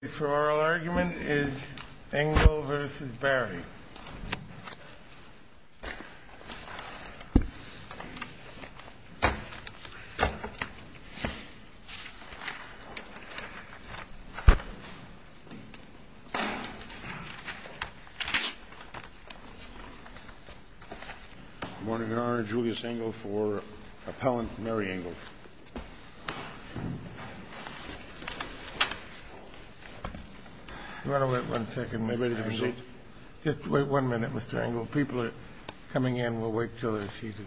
The oral argument is Engel v. Barry. I want to honor Julius Engel for appellant Mary Engel. You want to wait one second, Mr. Engel? Just wait one minute, Mr. Engel. People are coming in. We'll wait until they're seated.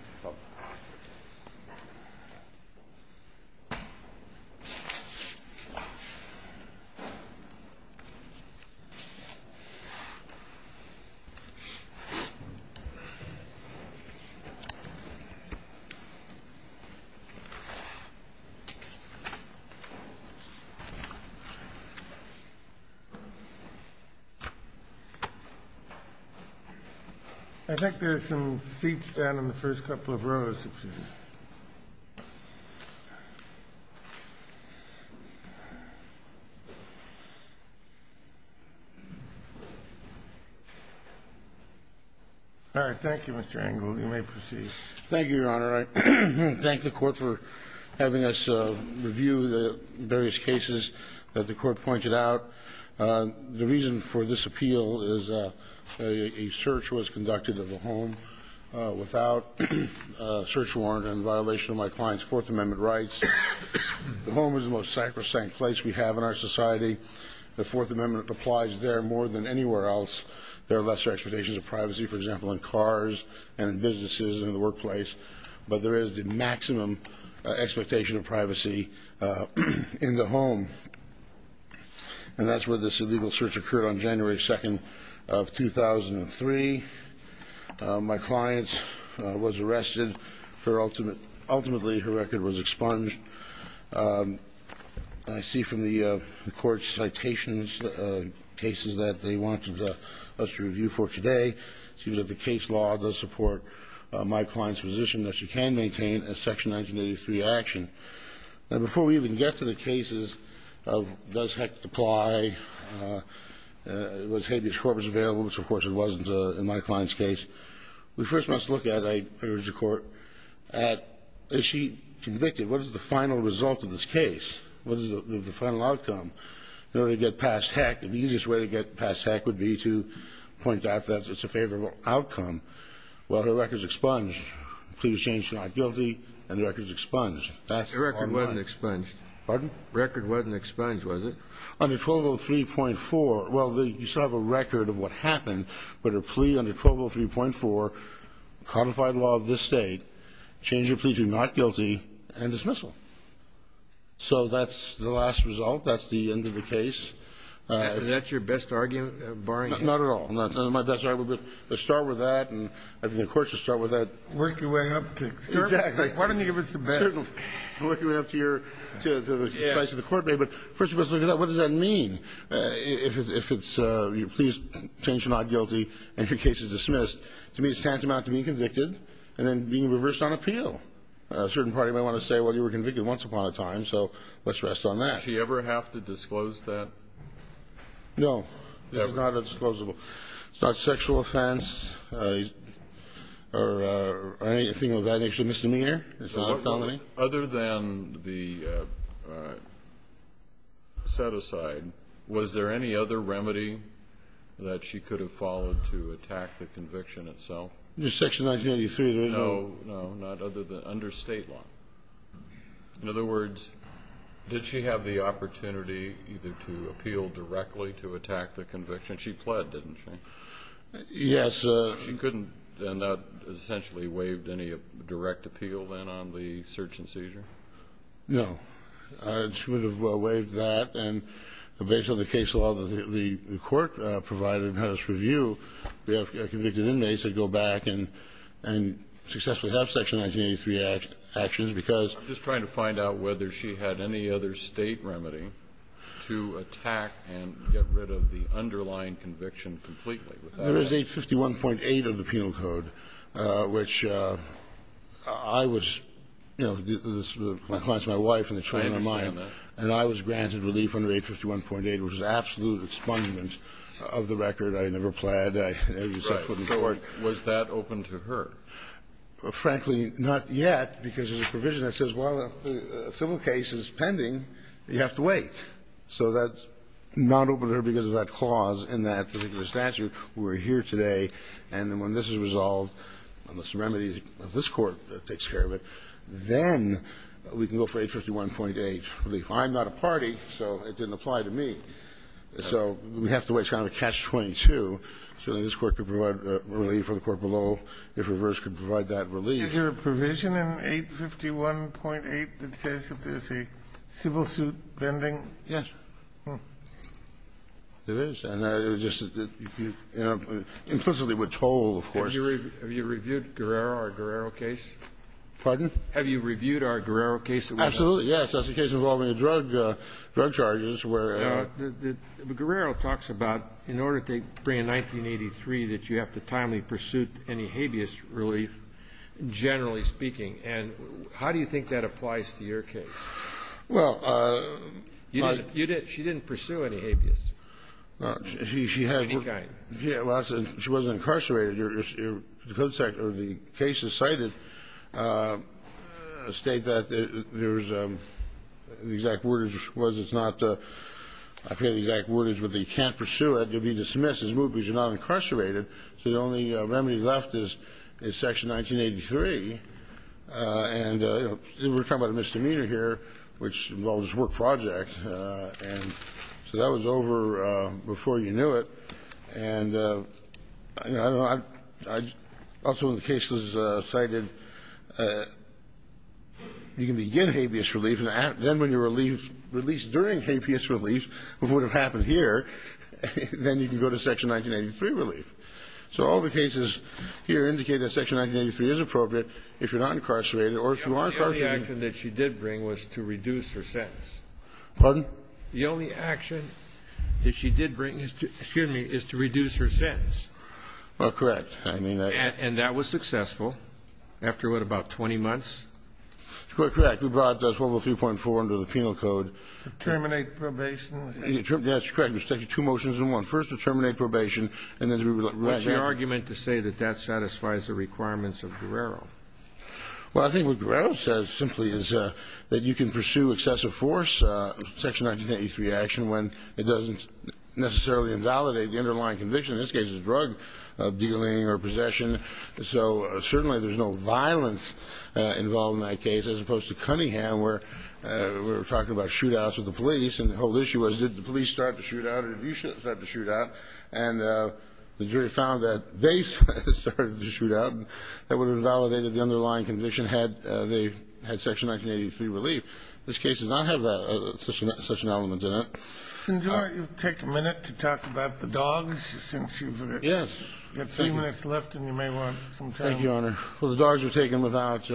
I think there's some seats down in the first couple of rows. Thank you, Mr. Engel. You may proceed. All right. Thank the Court for having us review the various cases that the Court pointed out. The reason for this appeal is a search was conducted of a home without a search warrant in violation of my client's Fourth Amendment rights. The home is the most sacrosanct place we have in our society. The Fourth Amendment applies there more than anywhere else. There are lesser expectations of privacy, for example, in cars and in businesses and in the workplace, but there is the maximum expectation of privacy in the home. And that's where this illegal search occurred on January 2nd of 2003. My client was arrested. Ultimately, her record was expunged. I see from the Court's citations cases that they wanted us to review for today. It seems that the case law does support my client's position that she can maintain a Section 1983 action. Now, before we even get to the cases of does HECC apply, was habeas corpus available, which, of course, it wasn't in my client's case, we first must look at, I urge the Court, at is she convicted? What is the final result of this case? What is the final outcome in order to get past HECC? The easiest way to get past HECC would be to point out that it's a favorable outcome. Well, her record is expunged. The plea was changed to not guilty, and the record is expunged. The record wasn't expunged. Pardon? The record wasn't expunged, was it? Under Provo 3.4, well, you still have a record of what happened, but her plea under Provo 3.4, codified law of this State, changed her plea to not guilty and dismissal. So that's the last result. That's the end of the case. Is that your best argument? Not at all. That's my best argument. Let's start with that. I think the Court should start with that. Work your way up to excursion. Exactly. Why don't you give us the best? Certainly. Work your way up to the advice of the Court. But first of all, let's look at that. What does that mean? If your plea is changed to not guilty and your case is dismissed, to me it's tantamount to being convicted and then being reversed on appeal. A certain party might want to say, well, you were convicted once upon a time, so let's rest on that. Does she ever have to disclose that? No. This is not a disclosable. It's not a sexual offense or anything of that nature, misdemeanor. It's not a felony. Other than the set-aside, was there any other remedy that she could have followed to attack the conviction itself? Under Section 1983, there is no other. No, no, not other than under State law. In other words, did she have the opportunity either to appeal directly to attack the conviction? She pled, didn't she? Yes. So she couldn't have essentially waived any direct appeal then on the search and seizure? No. She would have waived that. And based on the case law that the Court provided in its review, we have convicted inmates that go back and successfully have Section 1983 actions because of that. I'm just trying to find out whether she had any other State remedy to attack and get rid of the underlying conviction completely. There is 851.8 of the Penal Code, which I was, you know, this was my client's my wife and a friend of mine. I understand that. And I was granted relief under 851.8, which is absolute expungement of the record. I never pled. I never used that foot in court. Right. So was that open to her? Frankly, not yet, because there's a provision that says, well, if a civil case is pending, you have to wait. So that's not open to her because of that clause in that particular statute. We're here today. And when this is resolved, unless a remedy of this Court takes care of it, then we can go for 851.8 relief. I'm not a party, so it didn't apply to me. So we have to wait. It's kind of a catch-22. Certainly this Court could provide relief or the Court below, if reversed, could provide that relief. Is there a provision in 851.8 that says if there's a civil suit pending? Yes. It is. And it just implicitly would toll, of course. Have you reviewed Guerrero, our Guerrero case? Pardon? Have you reviewed our Guerrero case? Absolutely, yes. That's a case involving a drug charge. Guerrero talks about, in order to bring in 1983, that you have to timely pursue any habeas relief, generally speaking. And how do you think that applies to your case? Well, my ---- You didn't. She didn't pursue any habeas. She had ---- Of any kind. She wasn't incarcerated. The cases cited state that there's the exact word is it's not ---- I forget the exact word is, but you can't pursue it. You'll be dismissed as moved because you're not incarcerated. So the only remedy left is Section 1983. And we're talking about a misdemeanor here, which involves work projects. And so that was over before you knew it. And I don't know. Also in the cases cited, you can begin habeas relief, and then when you're released during habeas relief, what would have happened here, then you can go to Section 1983 relief. So all the cases here indicate that Section 1983 is appropriate if you're not incarcerated or if you are incarcerated. The only action that she did bring was to reduce her sentence. Pardon? The only action that she did bring is to reduce her sentence. Well, correct. And that was successful. After what, about 20 months? Correct. We brought 1203.4 under the penal code. To terminate probation. Yes, correct. It takes two motions in one. First, to terminate probation. What's your argument to say that that satisfies the requirements of Guerrero? Well, I think what Guerrero says simply is that you can pursue excessive force, Section 1983 action, when it doesn't necessarily invalidate the underlying conviction. In this case, it's drug dealing or possession. So certainly there's no violence involved in that case, as opposed to Cunningham where we were talking about shootouts with the police. And the whole issue was, did the police start the shootout or did you start the shootout? And the jury found that they started the shootout. That would have validated the underlying conviction had they had Section 1983 relief. This case does not have such an element in it. Can you take a minute to talk about the dogs since you've got three minutes left and you may want some time? Thank you, Your Honor. Well, the dogs were taken without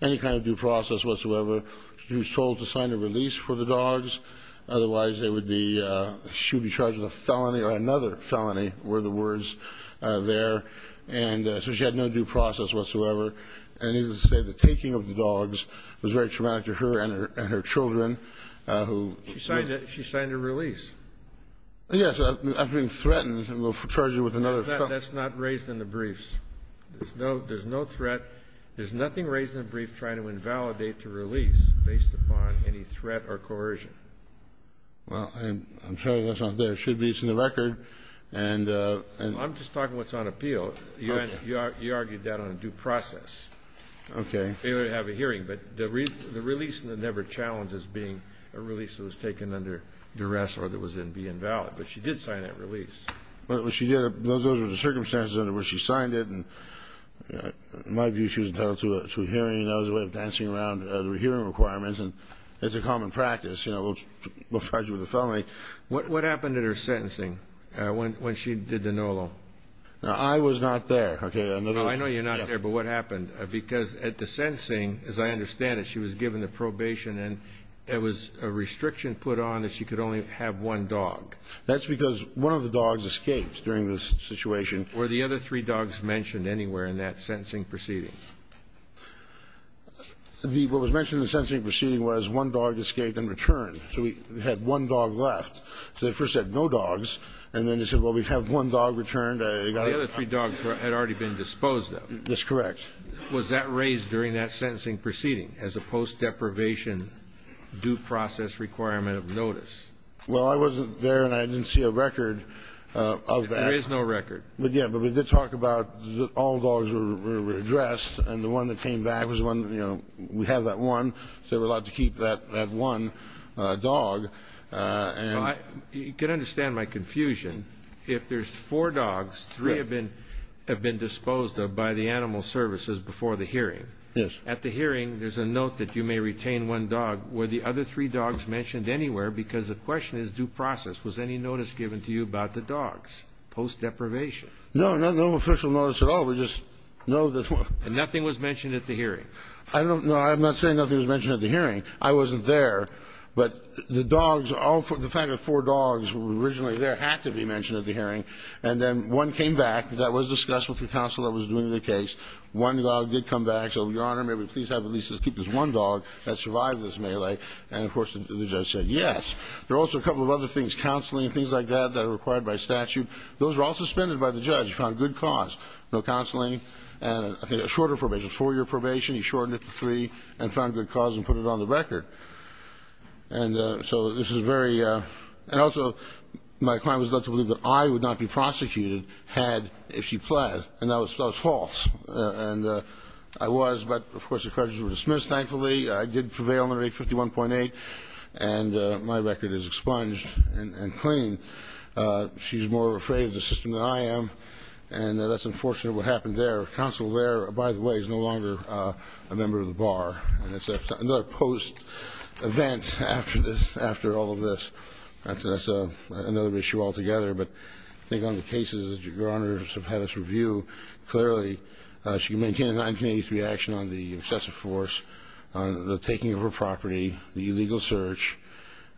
any kind of due process whatsoever. She was told to sign a release for the dogs. Otherwise, they would be ‑‑ she would be charged with a felony or another felony were the words there. And so she had no due process whatsoever. And needless to say, the taking of the dogs was very traumatic to her and her children who ‑‑ She signed a release. Yes. I've been threatened and will charge you with another felony. That's not raised in the briefs. There's no threat. There's nothing raised in the brief trying to invalidate the release based upon any coercion. Well, I'm sure that's not there. It should be. It's in the record. And ‑‑ I'm just talking what's on appeal. Okay. You argued that on a due process. Okay. Failure to have a hearing. But the release was never challenged as being a release that was taken under duress or that was in being valid. But she did sign that release. But what she did, those were the circumstances under which she signed it. And in my view, she was entitled to a hearing. That was a way of dancing around the hearing requirements. And it's a common practice, you know, we'll charge you with a felony. What happened at her sentencing when she did the NOLO? I was not there. Okay. I know you're not there, but what happened? Because at the sentencing, as I understand it, she was given the probation and there was a restriction put on that she could only have one dog. That's because one of the dogs escaped during the situation. Were the other three dogs mentioned anywhere in that sentencing proceeding? What was mentioned in the sentencing proceeding was one dog escaped and returned. So we had one dog left. So they first said no dogs, and then they said, well, we have one dog returned. The other three dogs had already been disposed of. That's correct. Was that raised during that sentencing proceeding as a post-deprivation due process requirement of notice? Well, I wasn't there and I didn't see a record of that. There is no record. Yeah, but we did talk about all dogs were addressed, and the one that came back was one, you know, we have that one. So we're allowed to keep that one dog. You can understand my confusion. If there's four dogs, three have been disposed of by the animal services before the hearing. Yes. At the hearing, there's a note that you may retain one dog. Were the other three dogs mentioned anywhere? Because the question is due process. Was any notice given to you about the dogs post-deprivation? No, no official notice at all. We just know that one. And nothing was mentioned at the hearing? No, I'm not saying nothing was mentioned at the hearing. I wasn't there. But the dogs, the fact that four dogs were originally there had to be mentioned at the hearing. And then one came back. That was discussed with the counsel that was doing the case. One dog did come back. So, Your Honor, may we please have at least this one dog that survived this melee. And, of course, the judge said yes. There are also a couple of other things, counseling and things like that, that are required by statute. Those were all suspended by the judge. He found good cause. No counseling. And I think a shorter probation, a four-year probation. He shortened it to three and found good cause and put it on the record. And so this is very ‑‑ and also my client was led to believe that I would not be prosecuted had she pled. And that was false. And I was. But, of course, the charges were dismissed, thankfully. I did prevail under 851.8. And my record is expunged and clean. She's more afraid of the system than I am. And that's unfortunate what happened there. Counsel there, by the way, is no longer a member of the bar. And it's another post event after this, after all of this. That's another issue altogether. But I think on the cases that Your Honor has had us review, clearly she can maintain a 1983 action on the excessive force, on the taking of her property, the illegal search.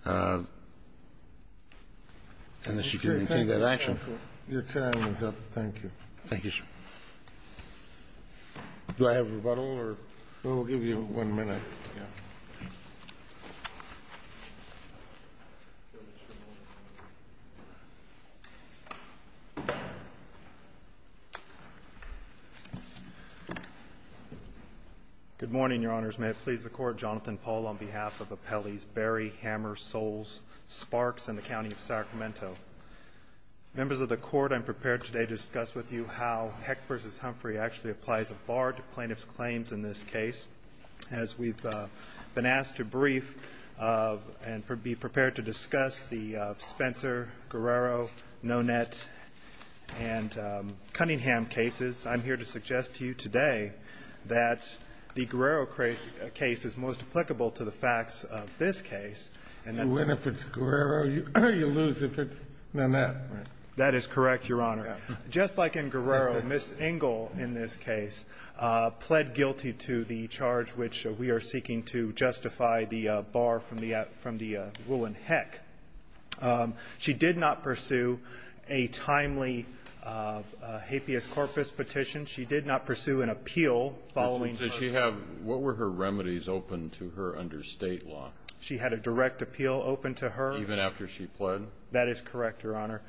And she can maintain that action. Your time is up. Thank you. Thank you, sir. Do I have rebuttal? We'll give you one minute. Good morning, Your Honors. May it please the Court. Jonathan Paul on behalf of Appellees Berry, Hammer, Soles, Sparks, and the County of Sacramento. Members of the Court, I'm prepared today to discuss with you how Heck v. Humphrey actually applies a bar to plaintiff's claims in this case. As we've been asked to brief and be prepared to discuss the Spencer, Guerrero, Nonet, and Cunningham cases, I'm here to suggest to you today that the Guerrero case is most applicable to the facts of this case. You win if it's Guerrero. You lose if it's Nonet. That is correct, Your Honor. Just like in Guerrero, Ms. Engel, in this case, pled guilty to the charge which we are seeking to justify the bar from the wool in Heck. She did not pursue a timely hapeas corpus petition. She did not pursue an appeal following. What were her remedies open to her under state law? She had a direct appeal open to her. Even after she pled? That is correct, Your Honor.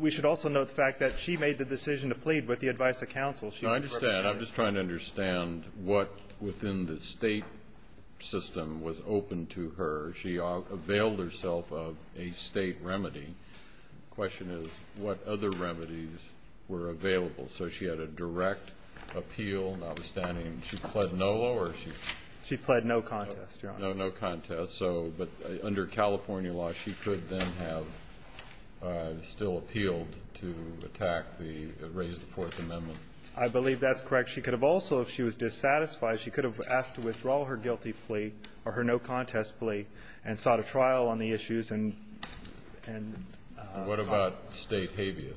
We should also note the fact that she made the decision to plead with the advice of counsel. I understand. I'm just trying to understand what within the state system was open to her. She availed herself of a state remedy. The question is what other remedies were available. So she had a direct appeal, notwithstanding she pled no law or she? She pled no contest, Your Honor. No contest. But under California law, she could then have still appealed to attack the raised Fourth Amendment. I believe that's correct. She could have also, if she was dissatisfied, she could have asked to withdraw her guilty plea or her no contest plea and sought a trial on the issues. What about state hapeas?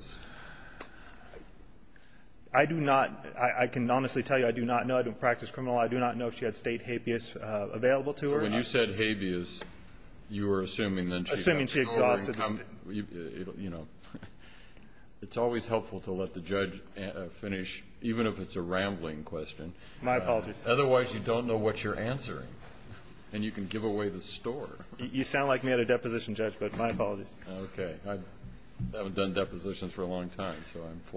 I do not. I can honestly tell you I do not know. I don't practice criminal law. I do not know if she had state hapeas available to her. When you said hapeas, you were assuming then she had to go and come. Assuming she exhausted the state. You know, it's always helpful to let the judge finish, even if it's a rambling question. My apologies. Otherwise, you don't know what you're answering, and you can give away the store. You sound like me at a deposition, Judge, but my apologies. Okay. All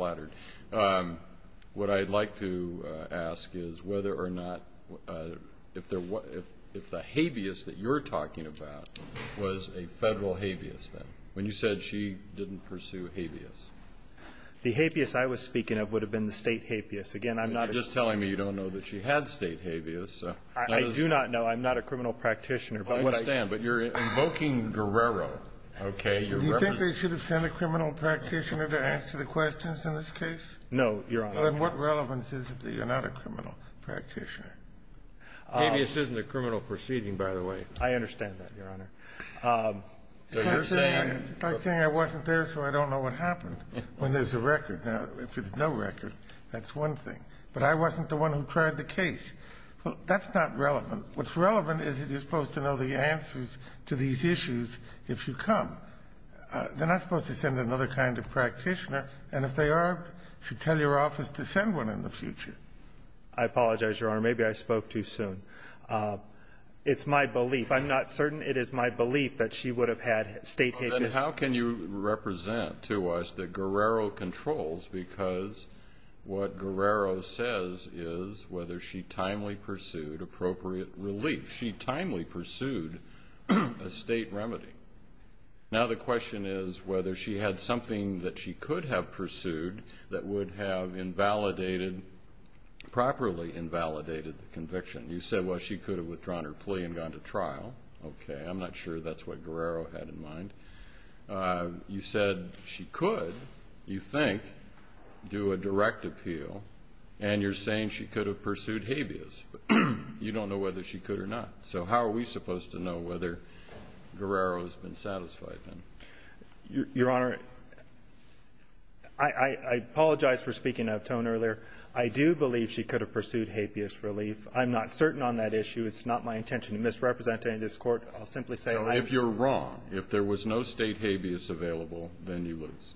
right. What I'd like to ask is whether or not if the habeas that you're talking about was a federal habeas then, when you said she didn't pursue habeas. The hapeas I was speaking of would have been the state hapeas. Again, I'm not. You're just telling me you don't know that she had state habeas. I do not know. I'm not a criminal practitioner. I understand. But you're invoking Guerrero. Okay. Do you think they should have sent a criminal practitioner to answer the questions in this case? No, Your Honor. Then what relevance is it that you're not a criminal practitioner? Habeas isn't a criminal proceeding, by the way. I understand that, Your Honor. It's like saying I wasn't there, so I don't know what happened when there's a record. Now, if there's no record, that's one thing. But I wasn't the one who tried the case. That's not relevant. What's relevant is that you're supposed to know the answers to these issues if you come. They're not supposed to send another kind of practitioner. And if they are, you should tell your office to send one in the future. I apologize, Your Honor. Maybe I spoke too soon. It's my belief. I'm not certain it is my belief that she would have had state habeas. Then how can you represent to us that Guerrero controls, because what Guerrero says is whether she timely pursued appropriate relief. She timely pursued a state remedy. Now the question is whether she had something that she could have pursued that would have properly invalidated the conviction. You said, well, she could have withdrawn her plea and gone to trial. Okay. I'm not sure that's what Guerrero had in mind. You said she could, you think, do a direct appeal, and you're saying she could have pursued habeas. You don't know whether she could or not. So how are we supposed to know whether Guerrero has been satisfied then? Your Honor, I apologize for speaking out of tone earlier. I do believe she could have pursued habeas relief. I'm not certain on that issue. It's not my intention to misrepresent it in this Court. I'll simply say I'm not. If you're wrong, if there was no state habeas available, then you lose.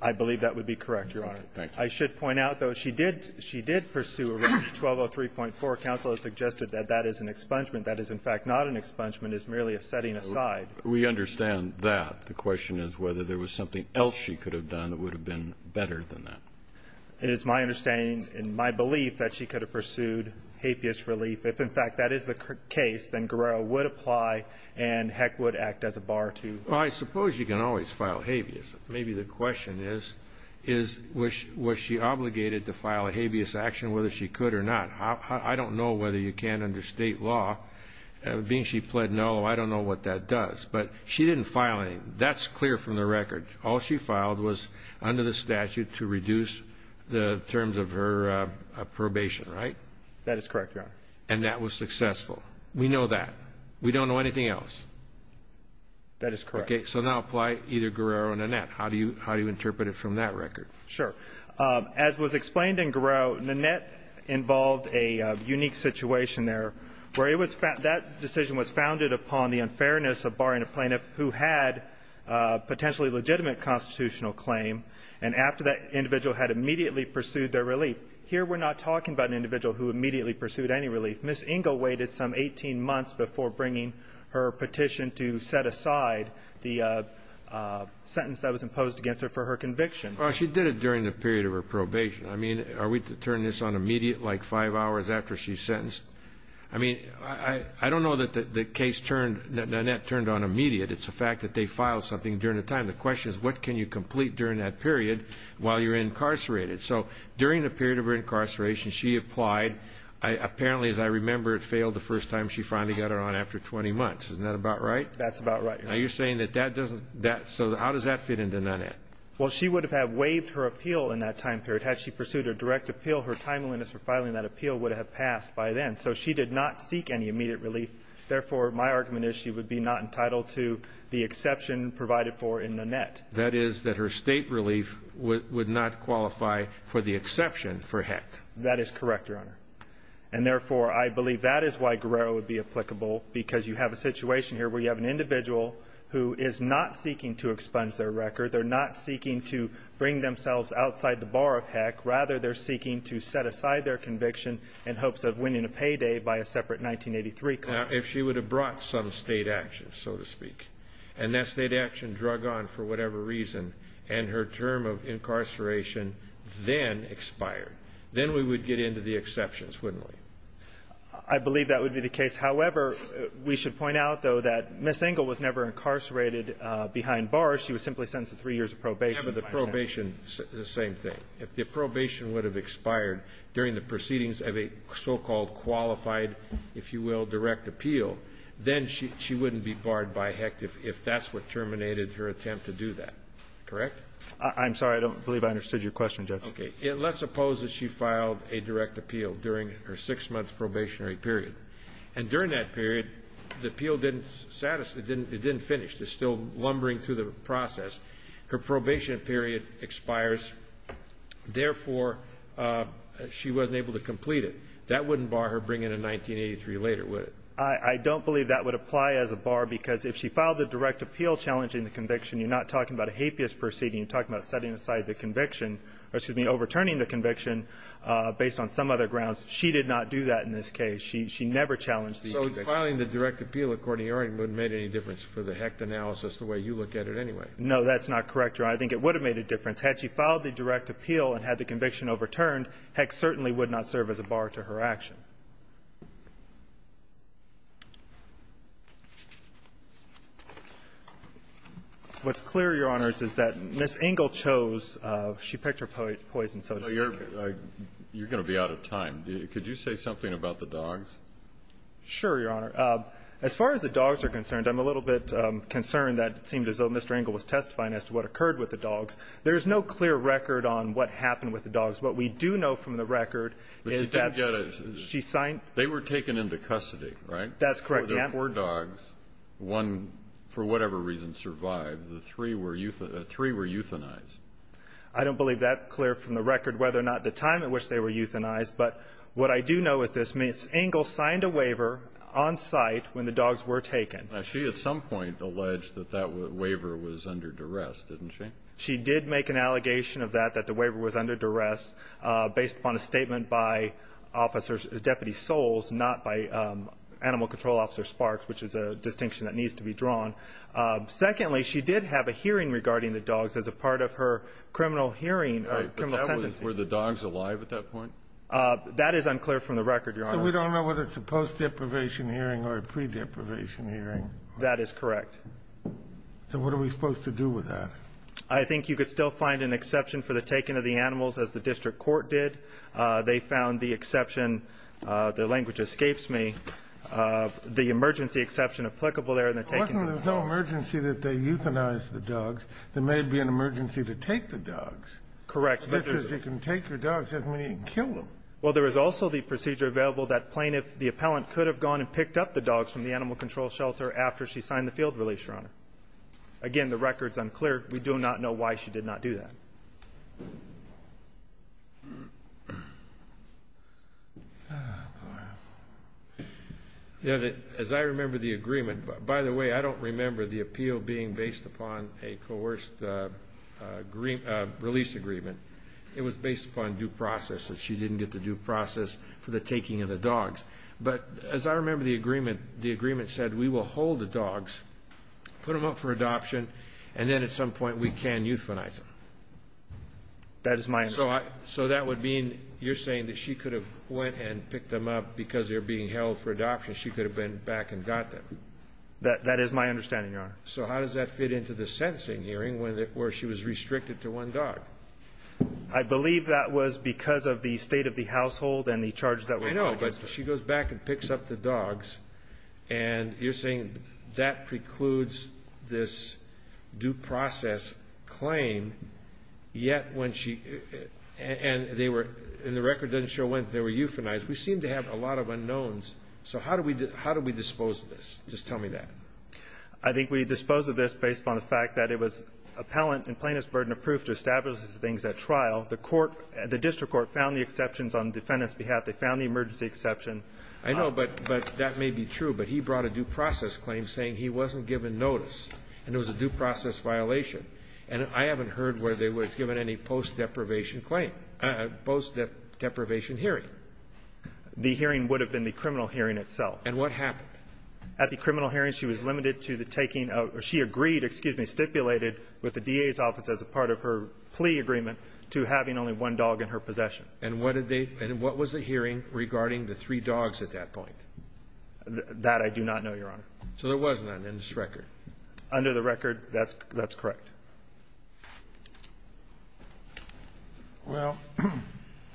I believe that would be correct, Your Honor. Okay. Thank you. I should point out, though, she did pursue remedy 1203.4. Counsel has suggested that that is an expungement. That is, in fact, not an expungement. It's merely a setting aside. We understand that. The question is whether there was something else she could have done that would have been better than that. It is my understanding and my belief that she could have pursued habeas relief. If, in fact, that is the case, then Guerrero would apply, and Heck would act as a bar to her. Well, I suppose you can always file habeas. Maybe the question is, was she obligated to file a habeas action, whether she could or not? I don't know whether you can under state law. Being she pled null, I don't know what that does. But she didn't file anything. That's clear from the record. All she filed was under the statute to reduce the terms of her probation, right? That is correct, Your Honor. And that was successful. We know that. We don't know anything else. That is correct. Okay. So now apply either Guerrero or Nanette. How do you interpret it from that record? Sure. As was explained in Guerrero, Nanette involved a unique situation there where it was that decision was founded upon the unfairness of barring a plaintiff who had potentially legitimate constitutional claim, and after that, the individual had immediately pursued their relief. Here we're not talking about an individual who immediately pursued any relief. Ms. Ingle waited some 18 months before bringing her petition to set aside the sentence that was imposed against her for her conviction. Well, she did it during the period of her probation. I mean, are we to turn this on immediate, like five hours after she's sentenced? I mean, I don't know that the case turned, that Nanette turned on immediate. It's the fact that they filed something during the time. The question is, what can you complete during that period while you're incarcerated? So during the period of her incarceration, she applied. Apparently, as I remember, it failed the first time she finally got it on after 20 months. Isn't that about right? That's about right, Your Honor. Now, you're saying that that doesn't, so how does that fit into Nanette? Well, she would have waived her appeal in that time period. Had she pursued a direct appeal, her time limits for filing that appeal would have passed by then, so she did not seek any immediate relief. Therefore, my argument is she would be not entitled to the exception provided for in Nanette. That is that her state relief would not qualify for the exception for Hecht. That is correct, Your Honor. And therefore, I believe that is why Guerrero would be applicable because you have a situation here where you have an individual who is not seeking to expunge their record. They're not seeking to bring themselves outside the bar of Hecht. Rather, they're seeking to set aside their conviction in hopes of winning a payday by a separate 1983 claim. Now, if she would have brought some state action, so to speak, and that state action drug on for whatever reason and her term of incarceration then expired, then we would get into the exceptions, wouldn't we? I believe that would be the case. However, we should point out, though, that Ms. Engel was never incarcerated behind bars. She was simply sentenced to three years of probation. The probation, the same thing. If the probation would have expired during the proceedings of a so-called qualified, if you will, direct appeal, then she wouldn't be barred by Hecht if that's what terminated her attempt to do that. Correct? I'm sorry. I don't believe I understood your question, Justice. Okay. Let's suppose that she filed a direct appeal during her six-month probationary period. And during that period, the appeal didn't satisfy, it didn't finish. It's still lumbering through the process. Her probation period expires. Therefore, she wasn't able to complete it. That wouldn't bar her bringing a 1983 later, would it? I don't believe that would apply as a bar because if she filed the direct appeal challenging the conviction, you're not talking about a hapeous proceeding, you're talking about setting aside the conviction, or excuse me, overturning the conviction based on some other grounds. She did not do that in this case. She never challenged the conviction. So filing the direct appeal according to your argument wouldn't make any difference for the Hecht analysis the way you look at it anyway? No, that's not correct, Your Honor. I think it would have made a difference. Had she filed the direct appeal and had the conviction overturned, Hecht certainly would not serve as a bar to her action. What's clear, Your Honors, is that Ms. Engel chose, she picked her poison, so to speak. You're going to be out of time. Could you say something about the dogs? Sure, Your Honor. As far as the dogs are concerned, I'm a little bit concerned that it seemed as though when Mr. Engel was testifying as to what occurred with the dogs, there is no clear record on what happened with the dogs. What we do know from the record is that she signed. They were taken into custody, right? That's correct, Your Honor. There were four dogs. One, for whatever reason, survived. The three were euthanized. I don't believe that's clear from the record whether or not at the time at which they were euthanized, but what I do know is this. Ms. Engel signed a waiver on site when the dogs were taken. Now, she at some point alleged that that waiver was under duress, didn't she? She did make an allegation of that, that the waiver was under duress, based upon a statement by officers, Deputy Soles, not by Animal Control Officer Sparks, which is a distinction that needs to be drawn. Secondly, she did have a hearing regarding the dogs as a part of her criminal hearing or criminal sentencing. Were the dogs alive at that point? That is unclear from the record, Your Honor. So we don't know whether it's a post-deprivation hearing or a pre-deprivation hearing. That is correct. So what are we supposed to do with that? I think you could still find an exception for the taking of the animals, as the district court did. They found the exception, the language escapes me, the emergency exception applicable there in the taking of the dogs. It wasn't that there was no emergency that they euthanized the dogs. There may be an emergency to take the dogs. Correct. Because you can take your dogs as many and kill them. Well, there is also the procedure available that plaintiff, the appellant, could have gone and picked up the dogs from the animal control shelter after she signed the field release, Your Honor. Again, the record is unclear. We do not know why she did not do that. As I remember the agreement, by the way, I don't remember the appeal being based upon a coerced release agreement. It was based upon due process that she didn't get the due process for the taking of the dogs. But as I remember the agreement, the agreement said we will hold the dogs, put them up for adoption, and then at some point we can euthanize them. That is my understanding. So that would mean you're saying that she could have went and picked them up because they were being held for adoption. She could have been back and got them. That is my understanding, Your Honor. So how does that fit into the sentencing hearing where she was restricted to one dog? I believe that was because of the state of the household and the charges that were brought against her. I know. But she goes back and picks up the dogs, and you're saying that precludes this due process claim, yet when she – and the record doesn't show when they were euthanized. We seem to have a lot of unknowns. So how do we dispose of this? Just tell me that. I think we dispose of this based upon the fact that it was appellant and plaintiff's trial. The court – the district court found the exceptions on the defendant's behalf. They found the emergency exception. I know, but that may be true. But he brought a due process claim saying he wasn't given notice, and it was a due process violation. And I haven't heard where they were given any post-deprivation claim – post-deprivation hearing. The hearing would have been the criminal hearing itself. And what happened? At the criminal hearing, she was limited to the taking of – she agreed, excuse me – stipulated with the DA's office as a part of her plea agreement to having only one dog in her possession. And what did they – and what was the hearing regarding the three dogs at that point? That I do not know, Your Honor. So there wasn't on this record? Under the record, that's correct. Well,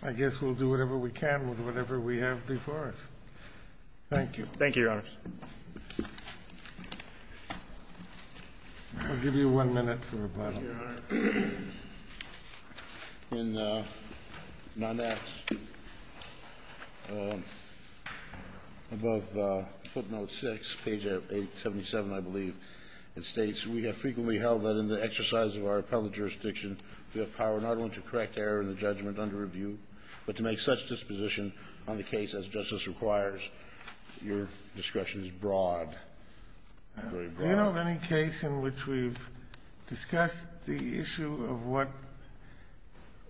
I guess we'll do whatever we can with whatever we have before us. Thank you. Thank you, Your Honors. I'll give you one minute for rebuttal. Thank you, Your Honor. In my next, above footnote 6, page 877, I believe, it states, We have frequently held that in the exercise of our appellate jurisdiction we have power not only to correct error in the judgment under review, but to make such disposition on the case as justice requires. Your discretion is broad, very broad. Do you know of any case in which we've discussed the issue of what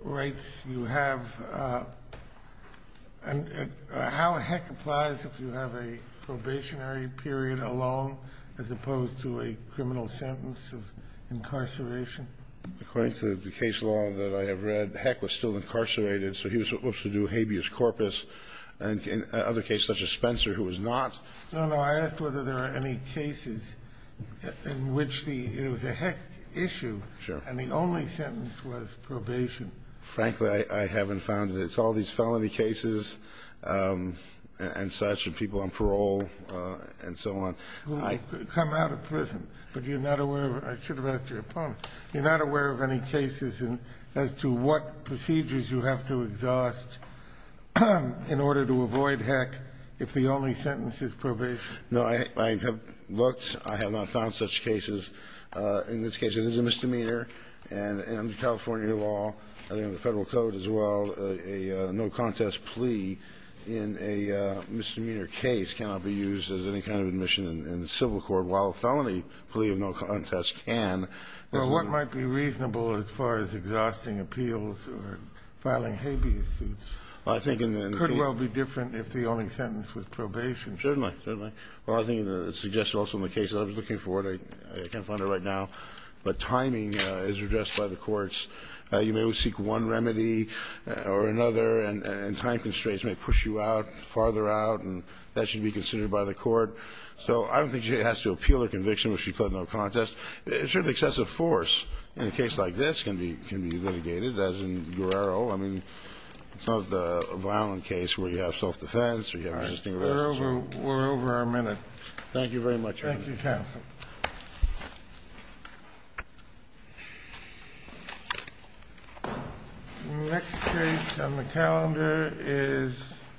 rights you have and how heck applies if you have a probationary period alone as opposed to a criminal sentence of incarceration? According to the case law that I have read, Heck was still incarcerated, so he was supposed to do habeas corpus. And in other cases, such as Spencer, who was not. No, no. I asked whether there are any cases in which it was a Heck issue and the only sentence was probation. Frankly, I haven't found it. It's all these felony cases and such and people on parole and so on. Who have come out of prison, but you're not aware of them. I should have asked your opponent. You're not aware of any cases as to what procedures you have to exhaust in order to avoid Heck if the only sentence is probation. No, I have looked. I have not found such cases. In this case, it is a misdemeanor, and under California law, I think under the Federal Code as well, a no-contest plea in a misdemeanor case cannot be used as any kind of admission in civil court, while a felony plea of no contest can. Well, what might be reasonable as far as exhausting appeals or filing habeas suits could well be different if the only sentence was probation. Certainly. Certainly. Well, I think the suggestion also in the case that I was looking for, I can't find it right now, but timing is addressed by the courts. You may seek one remedy or another, and time constraints may push you out, farther out, and that should be considered by the court. So I don't think she has to appeal her conviction if she pled no contest. It's really excessive force in a case like this can be litigated, as in Guerrero. I mean, it's not the violent case where you have self-defense or you have resisting resistance. All right. We're over our minute. Thank you very much, Your Honor. Thank you, counsel. The next case on the calendar is